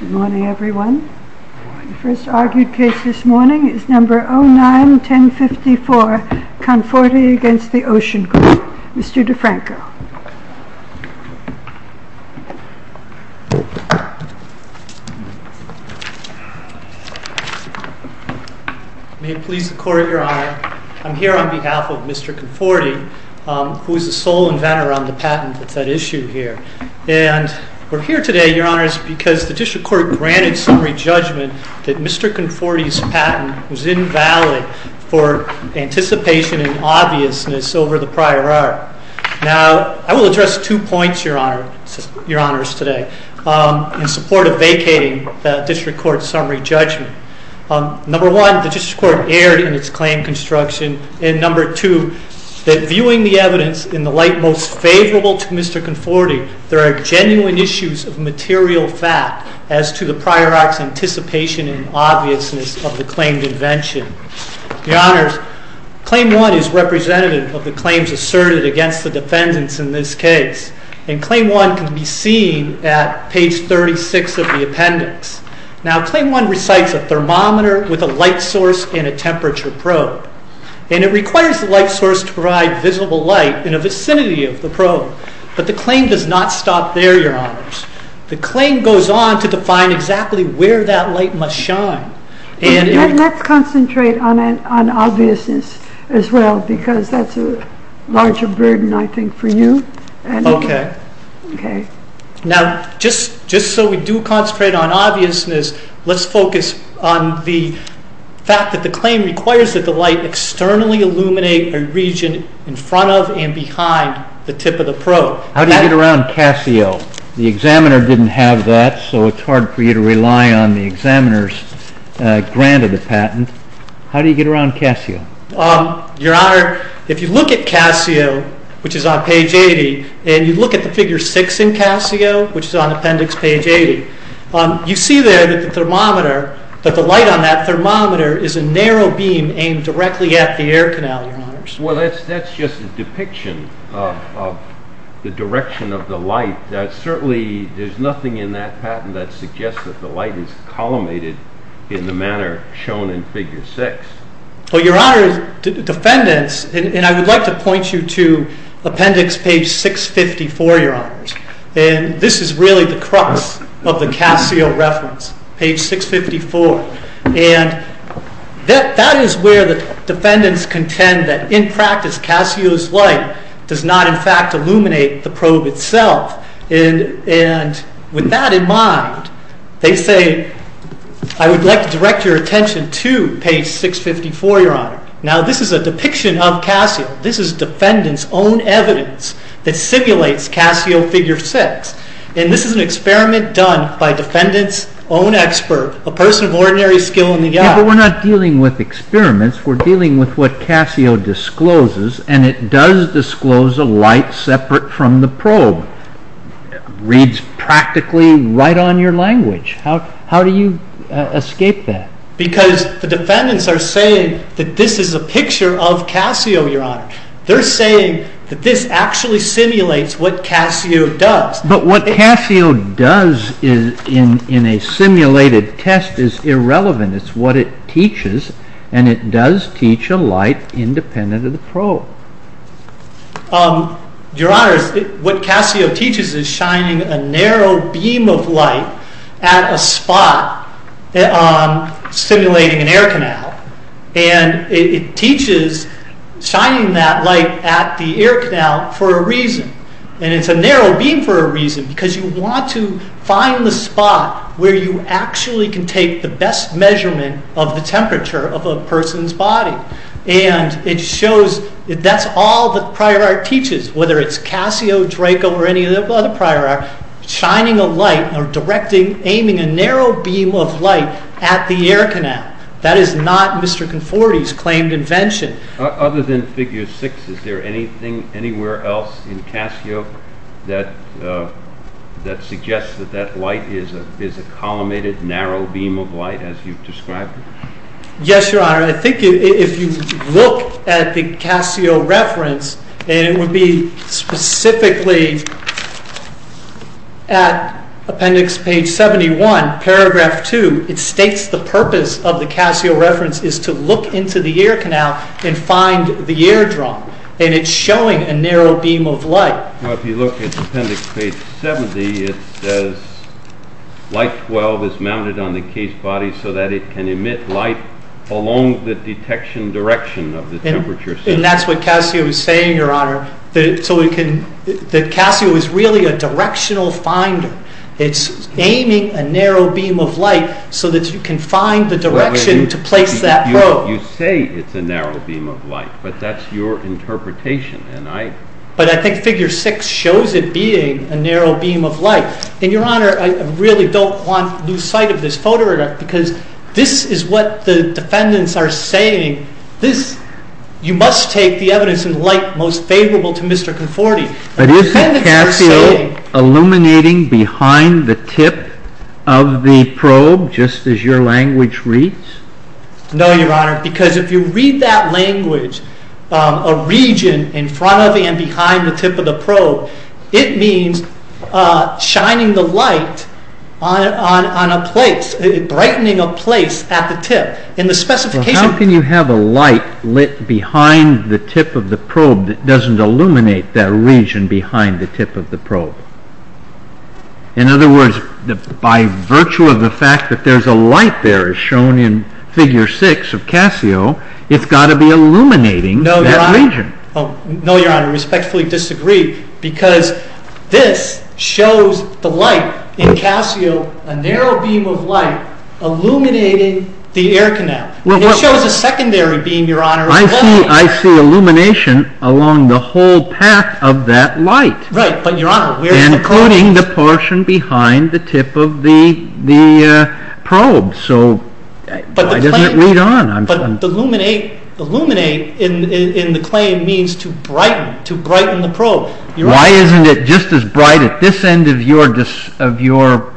Good morning everyone. The first argued case this morning is number 09-1054, Conforti v. The Ocean Group. Mr. DeFranco. May it please the Court, Your Honor. I'm here on behalf of Mr. Conforti, who is the sole inventor on the patent that's at issue here. And we're here today, Your Honors, because the District Court granted summary judgment that Mr. Conforti's patent was invalid for anticipation and obviousness over the prior hour. Now, I will address two points, Your Honors, today in support of vacating the District Court's summary judgment. Number one, the District Court erred in its claim construction. And number two, that viewing the evidence in the light most favorable to Mr. Conforti, there are genuine issues of material fact as to the prior act's anticipation and obviousness of the claimed invention. Your Honors, Claim 1 is representative of the claims asserted against the defendants in this case. And Claim 1 can be seen at page 36 of the appendix. Now, Claim 1 recites a thermometer with a light source and a temperature probe. And it requires the light source to provide visible light in a vicinity of the probe. But the claim does not stop there, Your Honors. The claim goes on to define exactly where that light must shine. Let's concentrate on obviousness as well, because that's a larger burden, I think, for you. Okay. Now, just so we do concentrate on obviousness, let's focus on the fact that the claim requires that the light externally illuminate a region in front of and behind the tip of the probe. How do you get around Casio? The examiner didn't have that, so it's hard for you to rely on the examiner's grant of the patent. How do you get around Casio? Your Honor, if you look at Casio, which is on page 80, and you look at the figure 6 in Casio, which is on appendix page 80, you see there that the light on that thermometer is a narrow beam aimed directly at the air canal, Your Honors. Well, that's just a depiction of the direction of the light. Certainly, there's nothing in that patent that suggests that the light is collimated in the manner shown in figure 6. Well, Your Honor, defendants, and I would like to point you to appendix page 654, Your Honors. And this is really the crux of the Casio reference, page 654. And that is where the defendants contend that in practice, Casio's light does not, in fact, illuminate the probe itself. And with that in mind, they say, I would like to direct your attention to page 654, Your Honor. Now, this is a depiction of Casio. This is defendants' own evidence that simulates Casio figure 6. And this is an experiment done by defendants' own expert, a person of ordinary skill in the art. But we're not dealing with experiments. We're dealing with what Casio discloses, and it does disclose a light separate from the probe. It reads practically right on your language. How do you escape that? Because the defendants are saying that this is a picture of Casio, Your Honor. They're saying that this actually simulates what Casio does. But what Casio does in a simulated test is irrelevant. It's what it teaches, and it does teach a light independent of the probe. Your Honor, what Casio teaches is shining a narrow beam of light at a spot simulating an air canal. And it teaches shining that light at the air canal for a reason. And it's a narrow beam for a reason, because you want to find the spot where you actually can take the best measurement of the temperature of a person's body. And it shows that that's all the prior art teaches, whether it's Casio, Draco, or any other prior art, shining a light or directing, aiming a narrow beam of light at the air canal. That is not Mr. Conforti's claimed invention. Other than figure six, is there anything anywhere else in Casio that suggests that that light is a collimated, narrow beam of light as you've described it? Yes, Your Honor. I think if you look at the Casio reference, and it would be specifically at appendix page 71, paragraph 2, it states the purpose of the Casio reference is to look into the air canal and find the air drum. And it's showing a narrow beam of light. Well, if you look at appendix page 70, it says light 12 is mounted on the case body so that it can emit light along the detection direction of the temperature. And that's what Casio is saying, Your Honor, that Casio is really a directional finder. It's aiming a narrow beam of light so that you can find the direction to place that probe. You say it's a narrow beam of light, but that's your interpretation. But I think figure six shows it being a narrow beam of light. And, Your Honor, I really don't want to lose sight of this photograph because this is what the defendants are saying. You must take the evidence in light most favorable to Mr. Conforti. But isn't Casio illuminating behind the tip of the probe just as your language reads? No, Your Honor, because if you read that language, a region in front of and behind the tip of the probe, it means shining the light on a place, brightening a place at the tip. How can you have a light lit behind the tip of the probe that doesn't illuminate that region behind the tip of the probe? In other words, by virtue of the fact that there's a light there as shown in figure six of Casio, it's got to be illuminating that region. No, Your Honor, I respectfully disagree because this shows the light in Casio, a narrow beam of light illuminating the air canal. It shows a secondary beam, Your Honor. I see illumination along the whole path of that light. Right, but Your Honor, where is the probe? Including the portion behind the tip of the probe. So why doesn't it read on? But illuminate in the claim means to brighten, to brighten the probe. Why isn't it just as bright at this end of your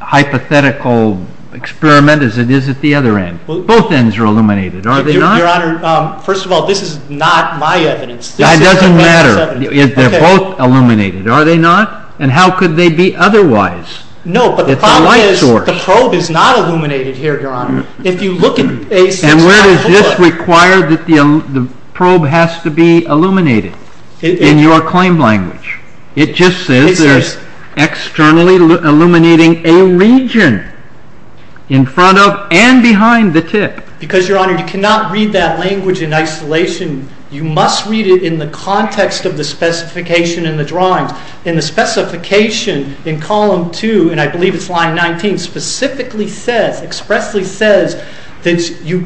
hypothetical experiment as it is at the other end? Both ends are illuminated, are they not? Your Honor, first of all, this is not my evidence. That doesn't matter. They're both illuminated, are they not? And how could they be otherwise? No, but the problem is the probe is not illuminated here, Your Honor. And where does this require that the probe has to be illuminated in your claim language? It just says there's externally illuminating a region in front of and behind the tip. Because, Your Honor, you cannot read that language in isolation. You must read it in the context of the specification in the drawings. And the specification in column 2, and I believe it's line 19, specifically says, expressly says that you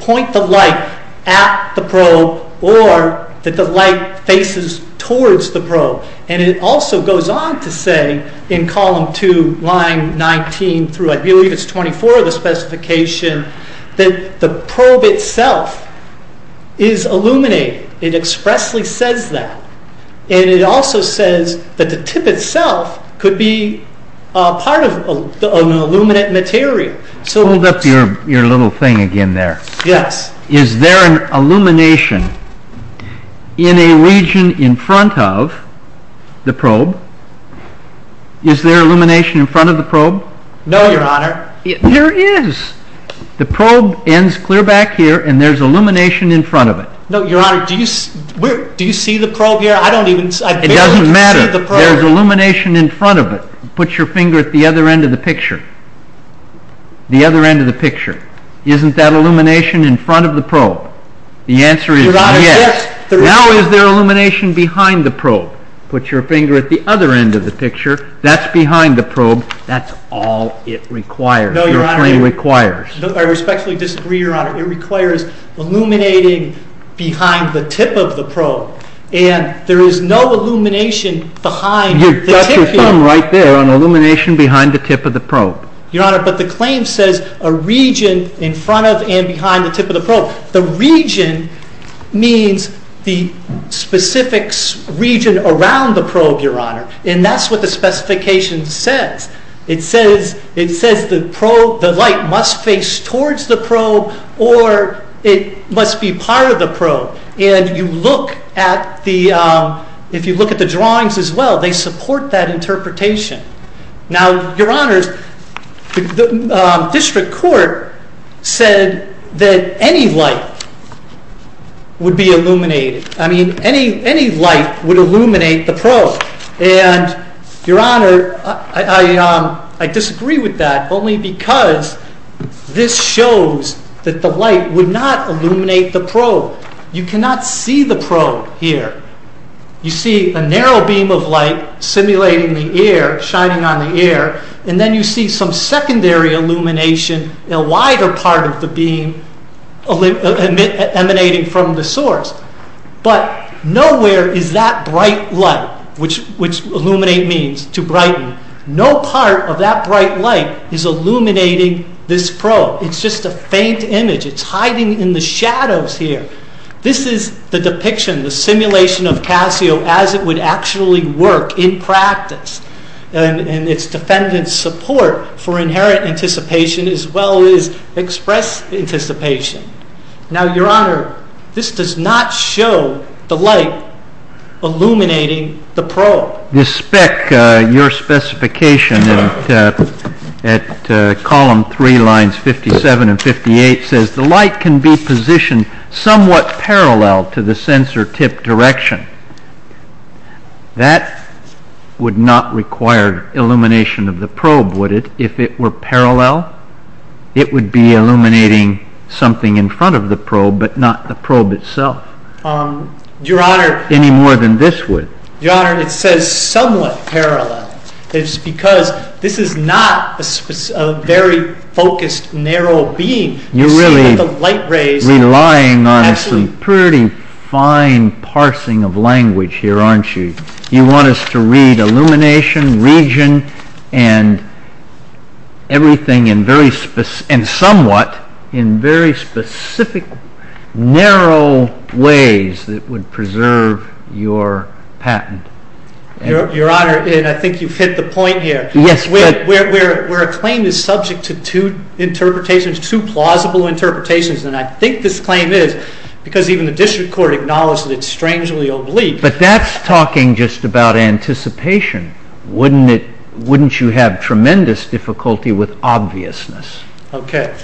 point the light at the probe or that the light faces towards the probe. And it also goes on to say in column 2, line 19 through, I believe it's 24, the specification that the probe itself is illuminated. It expressly says that. And it also says that the tip itself could be part of an illuminate material. Hold up your little thing again there. Yes. Is there an illumination in a region in front of the probe? Is there illumination in front of the probe? No, Your Honor. There is. The probe ends clear back here and there's illumination in front of it. No, Your Honor. Do you see the probe here? I barely can see the probe. It doesn't matter. There's illumination in front of it. Put your finger at the other end of the picture. The other end of the picture. Isn't that illumination in front of the probe? The answer is yes. Now is there illumination behind the probe? Put your finger at the other end of the picture. That's behind the probe. That's all it requires, your claim requires. I respectfully disagree, Your Honor. It requires illuminating behind the tip of the probe. And there is no illumination behind the tip here. You've got your thumb right there on illumination behind the tip of the probe. Your Honor, but the claim says a region in front of and behind the tip of the probe. The region means the specific region around the probe, Your Honor. And that's what the specification says. It says the light must face towards the probe or it must be part of the probe. And if you look at the drawings as well, they support that interpretation. Now, Your Honor, the district court said that any light would be illuminated. I mean any light would illuminate the probe. And, Your Honor, I disagree with that only because this shows that the light would not illuminate the probe. You cannot see the probe here. You see a narrow beam of light simulating the air, shining on the air. And then you see some secondary illumination in a wider part of the beam emanating from the source. But nowhere is that bright light, which illuminate means to brighten, no part of that bright light is illuminating this probe. It's just a faint image. It's hiding in the shadows here. This is the depiction, the simulation of Casio as it would actually work in practice. And its defendants support for inherent anticipation as well as express anticipation. Now, Your Honor, this does not show the light illuminating the probe. The spec, your specification at column 3 lines 57 and 58 says the light can be positioned somewhat parallel to the sensor tip direction. That would not require illumination of the probe, would it? If it were parallel, it would be illuminating something in front of the probe, but not the probe itself. Your Honor. Any more than this would. Your Honor, it says somewhat parallel. It's because this is not a very focused narrow beam. You're really relying on some pretty fine parsing of language here, aren't you? You want us to read illumination, region, and everything in very, and somewhat in very specific, narrow ways that would preserve your patent. Your Honor, and I think you've hit the point here. Yes. Where a claim is subject to two interpretations, two plausible interpretations, and I think this claim is because even the district court acknowledged that it's strangely oblique. But that's talking just about anticipation. Wouldn't you have tremendous difficulty with obviousness? Okay.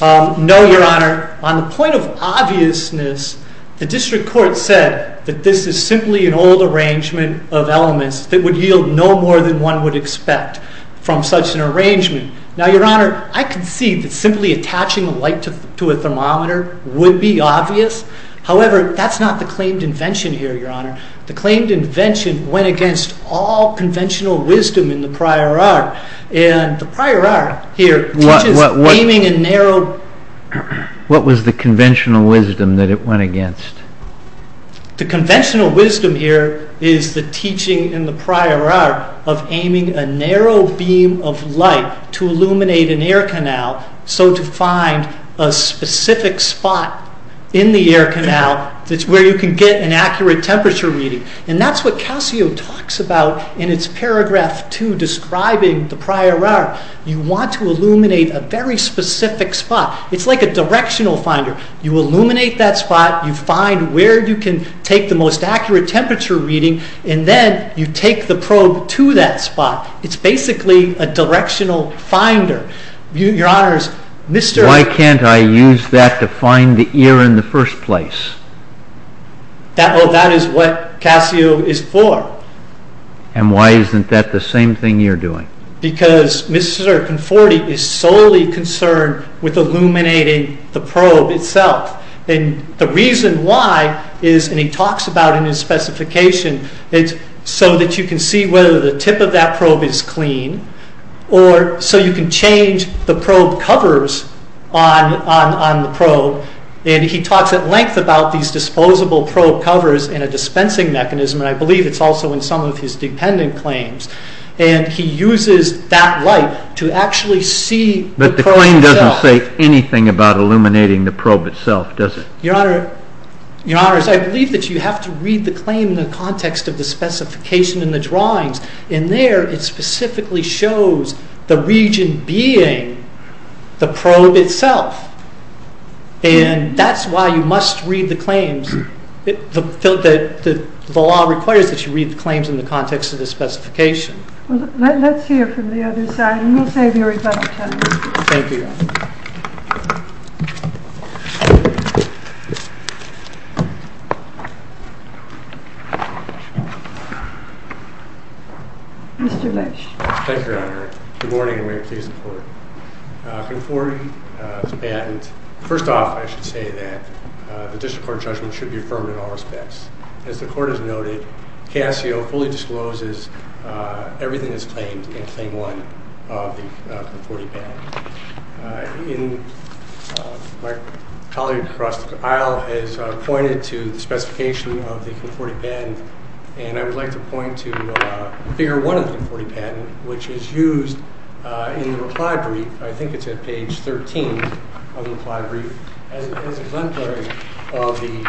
No, Your Honor. On the point of obviousness, the district court said that this is simply an old arrangement of elements that would yield no more than one would expect from such an arrangement. Now, Your Honor, I concede that simply attaching a light to a thermometer would be obvious. However, that's not the claimed invention here, Your Honor. The claimed invention went against all conventional wisdom in the prior art. And the prior art here teaches aiming a narrow… What was the conventional wisdom that it went against? The conventional wisdom here is the teaching in the prior art of aiming a narrow beam of light to illuminate an air canal so to find a specific spot in the air canal where you can get an accurate temperature reading. And that's what Calcio talks about in its paragraph two describing the prior art. You want to illuminate a very specific spot. It's like a directional finder. You illuminate that spot. You find where you can take the most accurate temperature reading, and then you take the probe to that spot. It's basically a directional finder. Your Honor, Mr.… Why can't I use that to find the ear in the first place? That is what Calcio is for. And why isn't that the same thing you're doing? Because Mr. Conforti is solely concerned with illuminating the probe itself. And the reason why is, and he talks about it in his specification, so that you can see whether the tip of that probe is clean or so you can change the probe covers on the probe. And he talks at length about these disposable probe covers in a dispensing mechanism, and I believe it's also in some of his dependent claims. And he uses that light to actually see the probe itself. But the claim doesn't say anything about illuminating the probe itself, does it? Your Honor, I believe that you have to read the claim in the context of the specification in the drawings. In there, it specifically shows the region being the probe itself. And that's why you must read the claims. The law requires that you read the claims in the context of the specification. Let's hear from the other side, and we'll save you a rebuttal time. Thank you, Your Honor. Mr. Leitch. Thank you, Your Honor. Good morning, and may it please the Court. Conforti's patent, first off, I should say that the district court judgment should be affirmed in all respects. As the Court has noted, CASIO fully discloses everything that's claimed in Claim 1 of the Conforti patent. My colleague across the aisle has pointed to the specification of the Conforti patent, and I would like to point to Figure 1 of the Conforti patent, which is used in the reply brief. I think it's at page 13 of the reply brief, as exemplary of the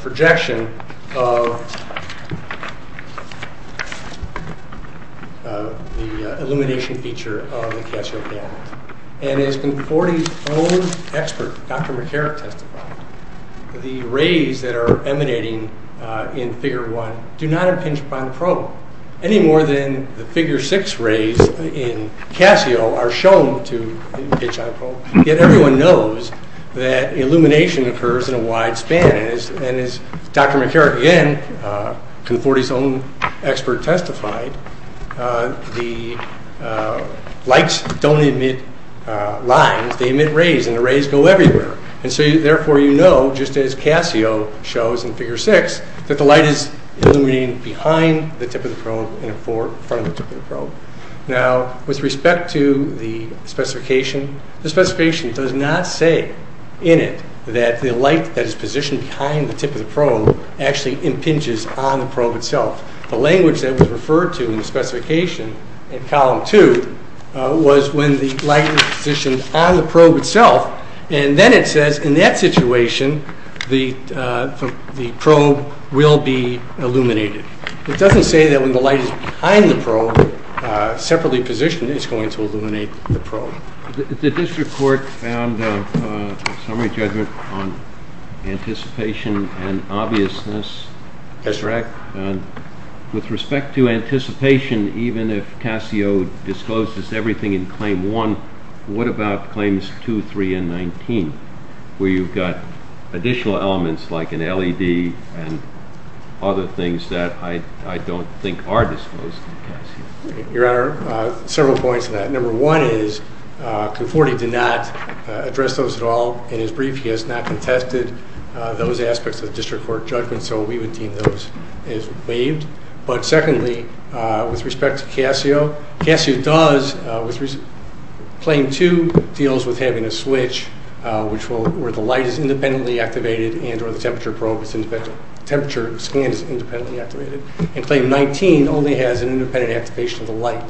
projection of the illumination feature of the CASIO patent. And as Conforti's own expert, Dr. McCarrick, testified, the rays that are emanating in Figure 1 do not impinge upon the probe, any more than the Figure 6 rays in CASIO are shown to impinge on the probe. Yet everyone knows that illumination occurs in a wide span, and as Dr. McCarrick again, Conforti's own expert, testified, the lights don't emit lines, they emit rays, and the rays go everywhere. And so therefore you know, just as CASIO shows in Figure 6, that the light is illuminating behind the tip of the probe and in front of the tip of the probe. Now, with respect to the specification, the specification does not say in it that the light that is positioned behind the tip of the probe actually impinges on the probe itself. The language that was referred to in the specification in Column 2 was when the light is positioned on the probe itself, and then it says in that situation the probe will be illuminated. It doesn't say that when the light is behind the probe, separately positioned, it's going to illuminate the probe. Did this report found a summary judgment on anticipation and obviousness? That's correct. With respect to anticipation, even if CASIO disclosed everything in Claim 1, what about Claims 2, 3, and 19, where you've got additional elements like an LED and other things that I don't think are disclosed in CASIO? Your Honor, several points on that. Number one is Conforti did not address those at all in his brief. He has not contested those aspects of the district court judgment, so we would deem those as waived. But secondly, with respect to CASIO, Claim 2 deals with having a switch where the light is independently activated and or the temperature scan is independently activated, and Claim 19 only has an independent activation of the light.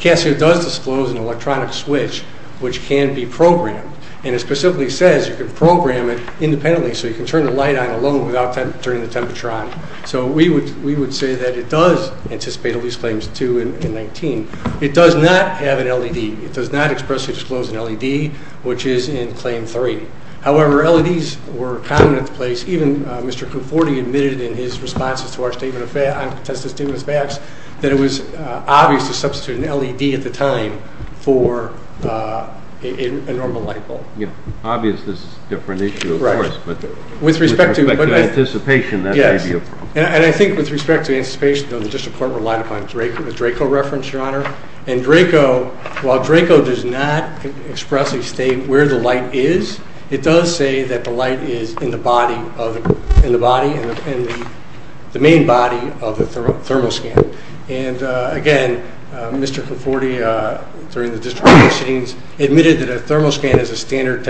CASIO does disclose an electronic switch which can be programmed, and it specifically says you can program it independently, so you can turn the light on alone without turning the temperature on. So we would say that it does anticipate at least Claims 2 and 19. It does not have an LED. It does not expressly disclose an LED, which is in Claim 3. However, LEDs were common at the place. Even Mr. Conforti admitted in his responses to our statement of facts, that it was obvious to substitute an LED at the time for a normal light bulb. Obvious is a different issue, of course. With respect to anticipation, that may be a problem. Yes, and I think with respect to anticipation, the district court relied upon the Draco reference, Your Honor. And Draco, while Draco does not expressly state where the light is, it does say that the light is in the body, in the main body of the thermal scan. And again, Mr. Conforti, during the district court proceedings, admitted that a thermal scan is a standard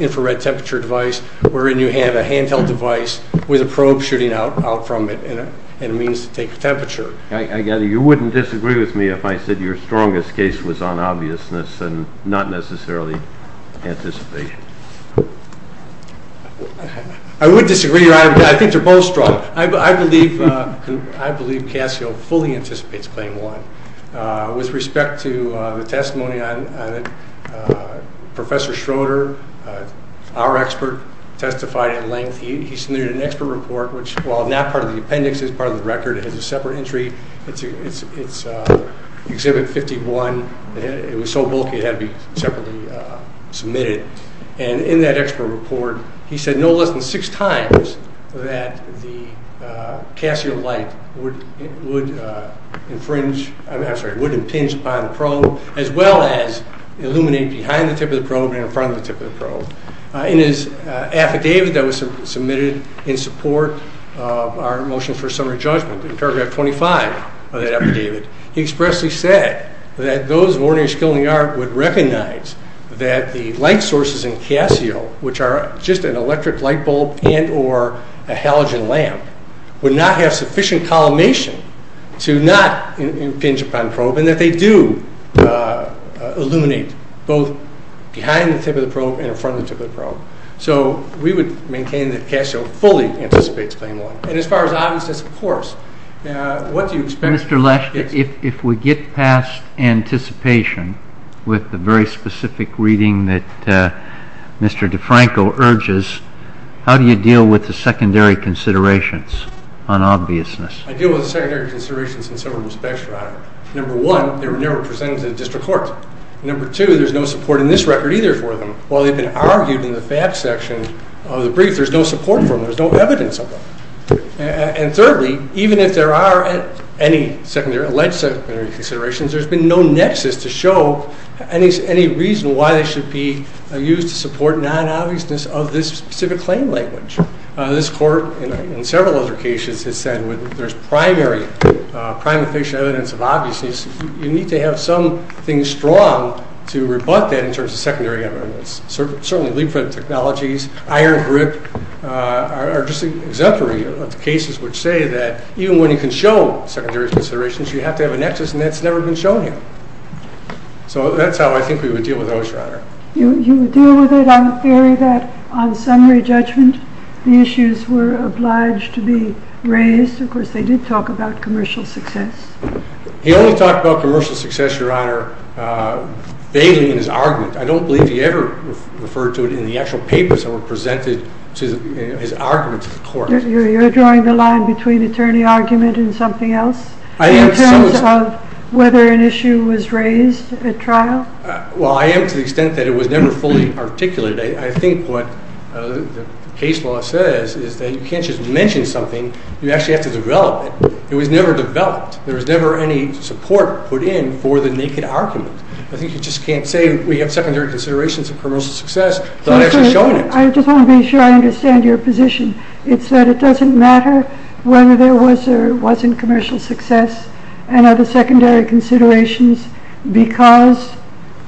infrared temperature device, wherein you have a handheld device with a probe shooting out from it, and it means to take the temperature. I get it. You wouldn't disagree with me if I said your strongest case was on obviousness and not necessarily anticipation. I would disagree, Your Honor. I think they're both strong. I believe Casio fully anticipates Claim 1. With respect to the testimony on it, Professor Schroeder, our expert, testified in length. He submitted an expert report, which while not part of the appendix, it's part of the record. It has a separate entry. It's Exhibit 51. It was so bulky it had to be separately submitted. And in that expert report, he said no less than six times that the Casio light would impinge upon the probe as well as illuminate behind the tip of the probe and in front of the tip of the probe. In his affidavit that was submitted in support of our motion for summary judgment, in paragraph 25 of that affidavit, he expressly said that those of ordinary skill in the art would recognize that the light sources in Casio, which are just an electric light bulb and or a halogen lamp, would not have sufficient collimation to not impinge upon the probe and that they do illuminate both behind the tip of the probe and in front of the tip of the probe. So we would maintain that Casio fully anticipates Claim 1. And as far as obviousness, of course, what do you expect? Mr. Lesch, if we get past anticipation with the very specific reading that Mr. DeFranco urges, how do you deal with the secondary considerations on obviousness? I deal with the secondary considerations in several respects, Your Honor. Number one, they were never presented to the district court. Number two, there's no support in this record either for them. While they've been argued in the facts section of the brief, there's no support for them. There's no evidence of them. And thirdly, even if there are any secondary, alleged secondary considerations, there's been no nexus to show any reason why they should be used to support non-obviousness of this specific claim language. This court, in several other cases, has said when there's primary, prime and fictitious evidence of obviousness, you need to have something strong to rebut that in terms of secondary evidence. Certainly leapfrog technologies, iron grip, are just exemplary cases which say that even when you can show secondary considerations, you have to have a nexus, and that's never been shown here. So that's how I think we would deal with those, Your Honor. You would deal with it on the theory that on summary judgment, the issues were obliged to be raised. Of course, they did talk about commercial success. He only talked about commercial success, Your Honor, vaguely in his argument. I don't believe he ever referred to it in the actual papers that were presented to his argument to the court. You're drawing the line between attorney argument and something else? I am. In terms of whether an issue was raised at trial? Well, I am to the extent that it was never fully articulated. I think what the case law says is that you can't just mention something. You actually have to develop it. It was never developed. There was never any support put in for the naked argument. I think you just can't say we have secondary considerations of commercial success without actually showing it. I just want to be sure I understand your position. It's that it doesn't matter whether there was or wasn't commercial success and other secondary considerations because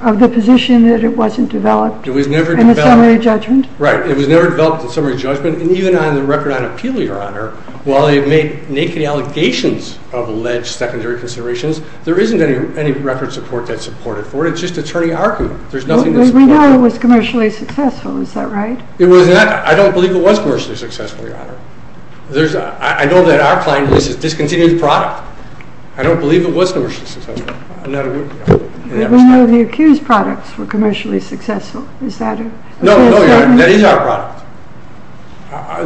of the position that it wasn't developed. It was never developed. In the summary judgment. Right. It was never developed in the summary judgment. And even on the record on appeal, Your Honor, while they make naked allegations of alleged secondary considerations, there isn't any record support that's supported for it. It's just attorney argument. There's nothing to support it. But we know it was commercially successful. Is that right? It was not. I don't believe it was commercially successful, Your Honor. I know that our client lists it as discontinued product. I don't believe it was commercially successful. I'm not aware of that. But we know the accused products were commercially successful. Is that it? No, Your Honor. That is our product.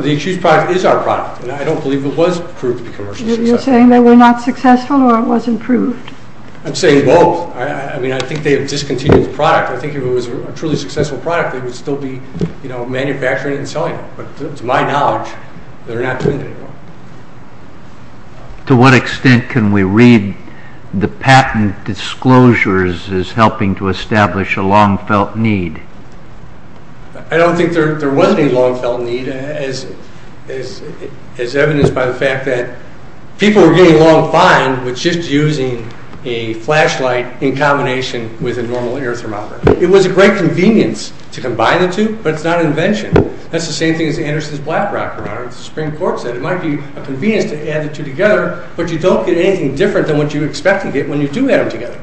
The accused product is our product. And I don't believe it was proved to be commercially successful. You're saying they were not successful or it wasn't proved? I'm saying both. I mean, I think they have discontinued the product. I think if it was a truly successful product, they would still be, you know, manufacturing it and selling it. But to my knowledge, they're not doing that anymore. To what extent can we read the patent disclosures as helping to establish a long-felt need? I don't think there was any long-felt need, as evidenced by the fact that people were getting along fine with just using a flashlight in combination with a normal air thermometer. It was a great convenience to combine the two, but it's not an invention. That's the same thing as Anderson's BlackRock, Your Honor. The Supreme Court said it might be a convenience to add the two together, but you don't get anything different than what you expect to get when you do add them together.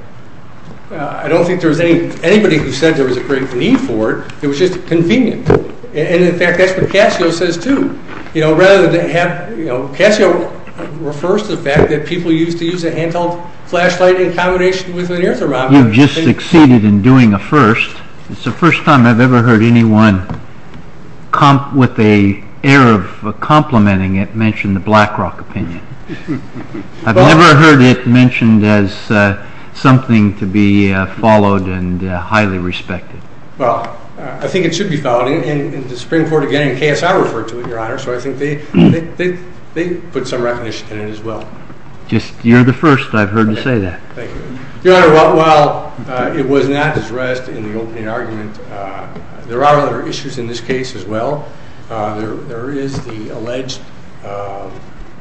I don't think there was anybody who said there was a great need for it. It was just convenient. And, in fact, that's what Casio says, too. You know, rather than have, you know, Casio refers to the fact that people used to use a handheld flashlight in combination with an air thermometer. You've just succeeded in doing a first. It's the first time I've ever heard anyone with an air of complimenting it mention the BlackRock opinion. I've never heard it mentioned as something to be followed and highly respected. Well, I think it should be followed. And the Supreme Court, again, and Casio referred to it, Your Honor, so I think they put some recognition in it as well. You're the first I've heard to say that. Thank you. Your Honor, while it was not addressed in the opening argument, there are other issues in this case as well. There is the alleged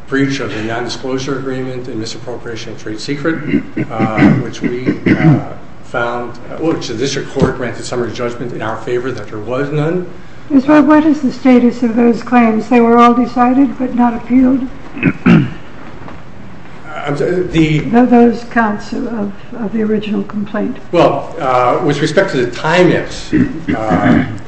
breach of the nondisclosure agreement and misappropriation of trade secret, which the district court granted summary judgment in our favor that there was none. What is the status of those claims? They were all decided but not appealed? No, those counts of the original complaint. Well, with respect to the Timex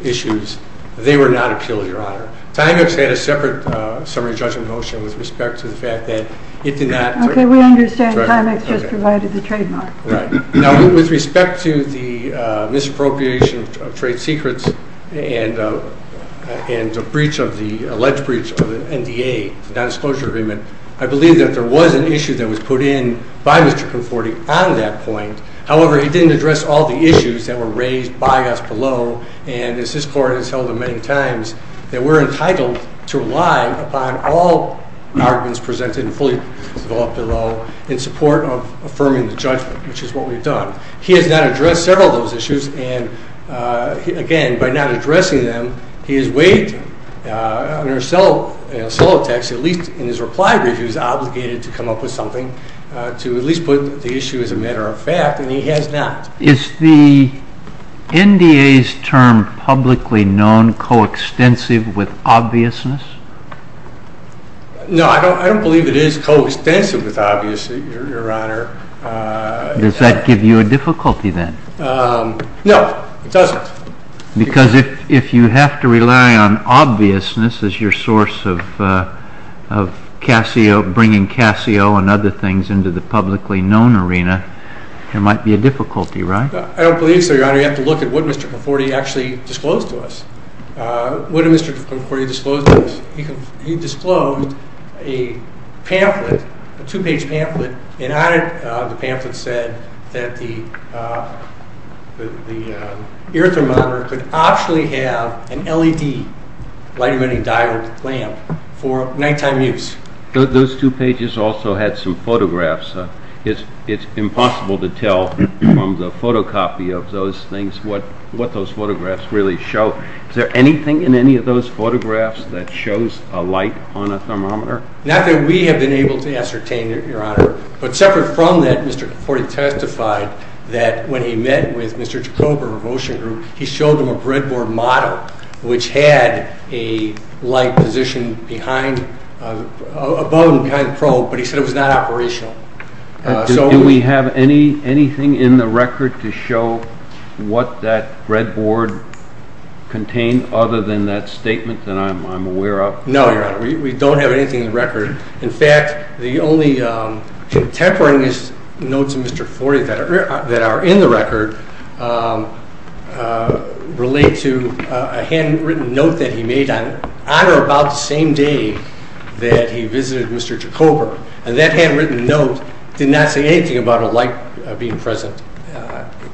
issues, they were not appealed, Your Honor. Timex had a separate summary judgment motion with respect to the fact that it did not. Okay, we understand. Timex just provided the trademark. Right. Now, with respect to the misappropriation of trade secrets and the alleged breach of the NDA, the nondisclosure agreement, I believe that there was an issue that was put in by Mr. Conforti on that point. However, he didn't address all the issues that were raised by us below, and as this Court has held many times, that we're entitled to rely upon all arguments presented and fully developed below in support of affirming the judgment, which is what we've done. He has not addressed several of those issues, and again, by not addressing them, he has waived them. Under a solo text, at least in his reply brief, he was obligated to come up with something to at least put the issue as a matter of fact, and he has not. Is the NDA's term publicly known coextensive with obviousness? No, I don't believe it is coextensive with obviousness, Your Honor. Does that give you a difficulty then? No, it doesn't. Because if you have to rely on obviousness as your source of bringing Casio and other things into the publicly known arena, there might be a difficulty, right? I don't believe so, Your Honor. You have to look at what Mr. Conforti actually disclosed to us. What did Mr. Conforti disclose to us? He disclosed a pamphlet, a two-page pamphlet, and on it the pamphlet said that the ear thermometer could optionally have an LED, light-emitting diode lamp, for nighttime use. Those two pages also had some photographs. It's impossible to tell from the photocopy of those things what those photographs really show. Is there anything in any of those photographs that shows a light on a thermometer? Not that we have been able to ascertain, Your Honor, but separate from that, Mr. Conforti testified that when he met with Mr. Jacobo of Ocean Group, he showed them a breadboard model which had a light positioned above and behind the probe, but he said it was not operational. Do we have anything in the record to show what that breadboard contained, other than that statement that I'm aware of? No, Your Honor. We don't have anything in the record. In fact, the only contemporaneous notes of Mr. Conforti that are in the record relate to a handwritten note that he made on or about the same day that he visited Mr. Jacobo, and that handwritten note did not say anything about a light being present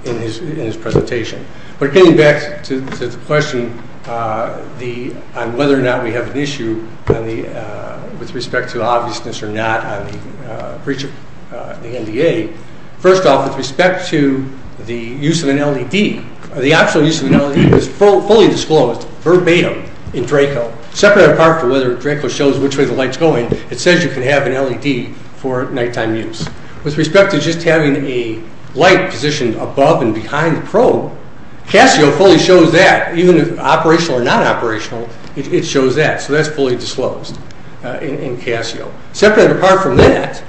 in his presentation. But getting back to the question on whether or not we have an issue with respect to obviousness or not on the breach of the NDA, first off, with respect to the use of an LED, the actual use of an LED was fully disclosed verbatim in Draco. Separate apart from whether Draco shows which way the light's going, it says you can have an LED for nighttime use. With respect to just having a light positioned above and behind the probe, Casio fully shows that, even if operational or not operational, it shows that. So that's fully disclosed in Casio. Separate apart from that,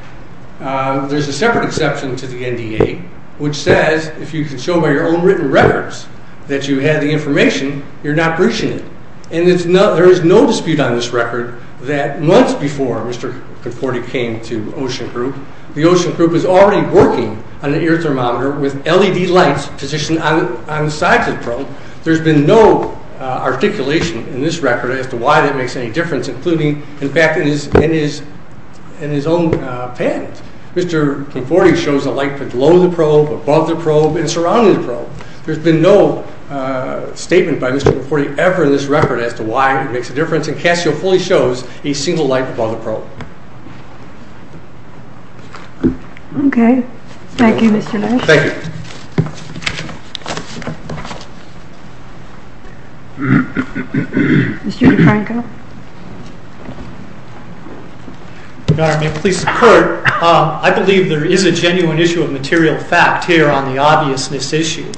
there's a separate exception to the NDA, which says if you can show by your own written records that you had the information, you're not breaching it. And there is no dispute on this record that months before Mr. Conforti came to Ocean Group, the Ocean Group was already working on the ear thermometer with LED lights positioned on the sides of the probe. There's been no articulation in this record as to why that makes any difference, including, in fact, in his own patent. Mr. Conforti shows a light below the probe, above the probe, and surrounding the probe. There's been no statement by Mr. Conforti ever in this record as to why it makes a difference, and Casio fully shows a single light above the probe. Okay. Thank you, Mr. Nash. Thank you. Mr. DeFranco. I believe there is a genuine issue of material fact here on the obviousness issue.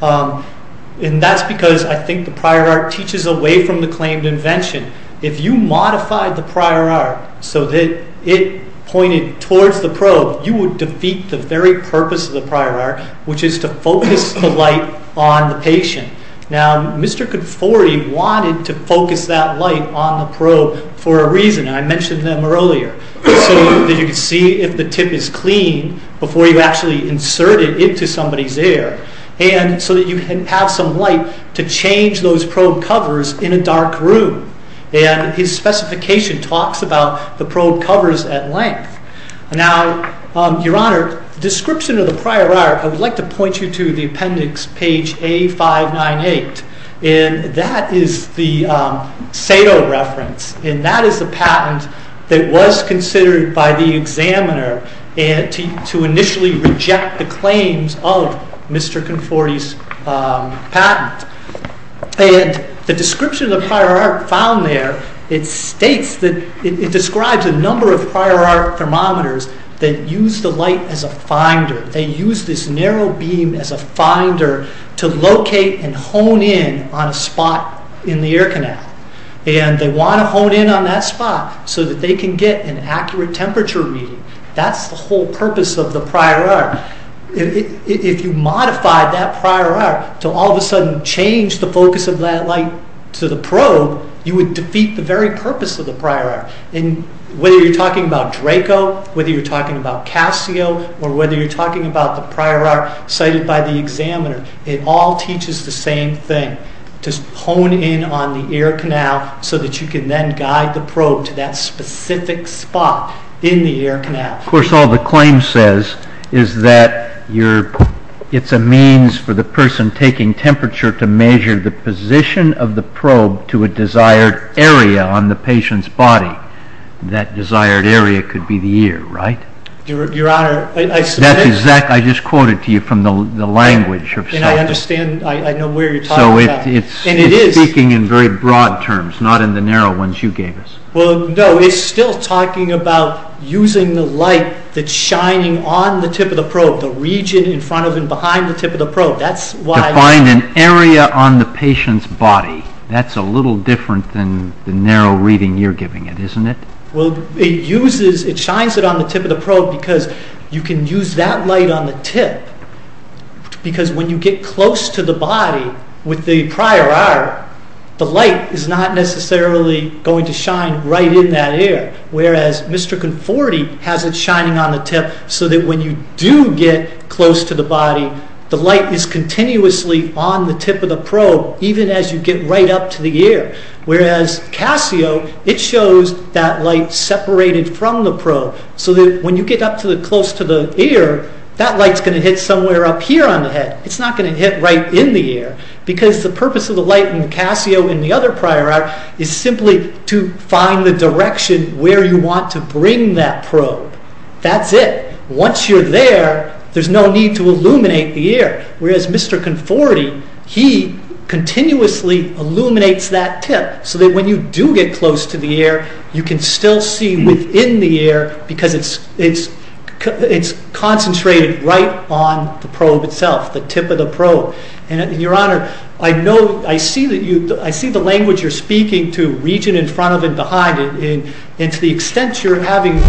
And that's because I think the prior art teaches away from the claimed invention. If you modified the prior art so that it pointed towards the probe, you would defeat the very purpose of the prior art, which is to focus the light on the patient. Now, Mr. Conforti wanted to focus that light on the probe for a reason, and I mentioned them earlier, so that you could see if the tip is clean before you actually insert it into somebody's ear, and so that you have some light to change those probe covers in a dark room. And his specification talks about the probe covers at length. Now, Your Honor, the description of the prior art, I would like to point you to the appendix, page A598. And that is the Sato reference, and that is the patent that was considered by the examiner to initially reject the claims of Mr. Conforti's patent. And the description of the prior art found there, it states that it describes a number of prior art thermometers that use the light as a finder. They use this narrow beam as a finder to locate and hone in on a spot in the ear canal. And they want to hone in on that spot so that they can get an accurate temperature reading. That's the whole purpose of the prior art. If you modify that prior art to all of a sudden change the focus of that light to the probe, you would defeat the very purpose of the prior art. And whether you're talking about Draco, whether you're talking about Casio, or whether you're talking about the prior art cited by the examiner, it all teaches the same thing, to hone in on the ear canal so that you can then guide the probe to that specific spot in the ear canal. Of course, all the claim says is that it's a means for the person taking temperature to measure the position of the probe to a desired area on the patient's body. That desired area could be the ear, right? Your Honor, I submitted... That's exact, I just quoted to you from the language of... And I understand, I know where you're talking about. So it's speaking in very broad terms, not in the narrow ones you gave us. Well, no, it's still talking about using the light that's shining on the tip of the probe, the region in front of and behind the tip of the probe. That's why... To find an area on the patient's body. That's a little different than the narrow reading you're giving it, isn't it? Well, it shines it on the tip of the probe because you can use that light on the tip. Because when you get close to the body with the prior hour, the light is not necessarily going to shine right in that ear. Whereas Mr. Conforti has it shining on the tip so that when you do get close to the body, the light is continuously on the tip of the probe even as you get right up to the ear. Whereas Casio, it shows that light separated from the probe. So that when you get up close to the ear, that light's going to hit somewhere up here on the head. It's not going to hit right in the ear. Because the purpose of the light in Casio and the other prior hour is simply to find the direction where you want to bring that probe. That's it. Once you're there, there's no need to illuminate the ear. Whereas Mr. Conforti, he continuously illuminates that tip so that when you do get close to the ear, you can still see within the ear because it's concentrated right on the probe itself, the tip of the probe. Your Honor, I see the language you're speaking to region in front of and behind. And to the extent you're having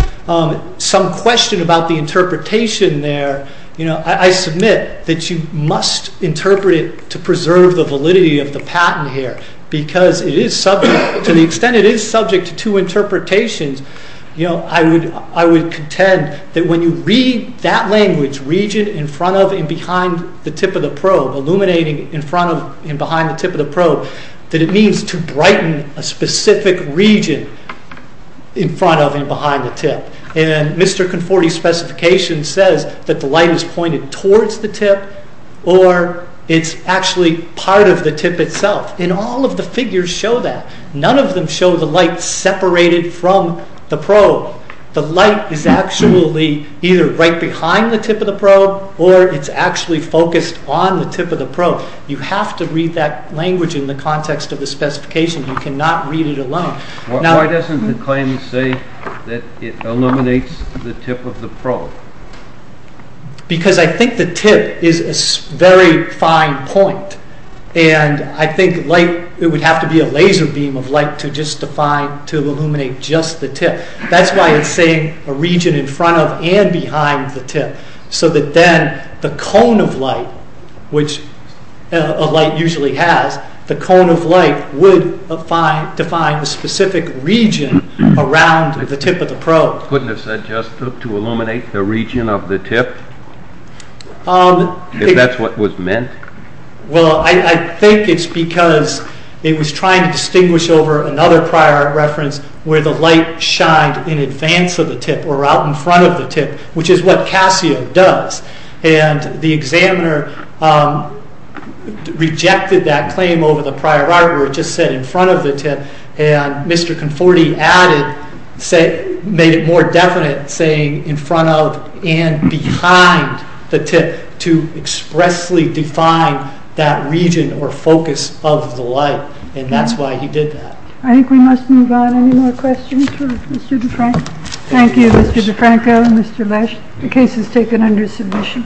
some question about the interpretation there, I submit that you must interpret it to preserve the validity of the patent here. Because to the extent it is subject to interpretations, I would contend that when you read that language, region in front of and behind the tip of the probe, illuminating in front of and behind the tip of the probe, that it means to brighten a specific region in front of and behind the tip. And Mr. Conforti's specification says that the light is pointed towards the tip or it's actually part of the tip itself. And all of the figures show that. None of them show the light separated from the probe. The light is actually either right behind the tip of the probe or it's actually focused on the tip of the probe. You have to read that language in the context of the specification. You cannot read it alone. Why doesn't the claim say that it illuminates the tip of the probe? Because I think the tip is a very fine point. And I think it would have to be a laser beam of light to illuminate just the tip. That's why it's saying a region in front of and behind the tip. So that then the cone of light, which a light usually has, the cone of light would define a specific region around the tip of the probe. Couldn't it have said just to illuminate the region of the tip, if that's what was meant? Well, I think it's because it was trying to distinguish over another prior reference where the light shined in advance of the tip or out in front of the tip, which is what Casio does. And the examiner rejected that claim over the prior art where it just said in front of the tip. And Mr. Conforti made it more definite, saying in front of and behind the tip to expressly define that region or focus of the light. And that's why he did that. I think we must move on. Any more questions for Mr. DeFranco? Thank you, Mr. DeFranco and Mr. Lesch. The case is taken under submission.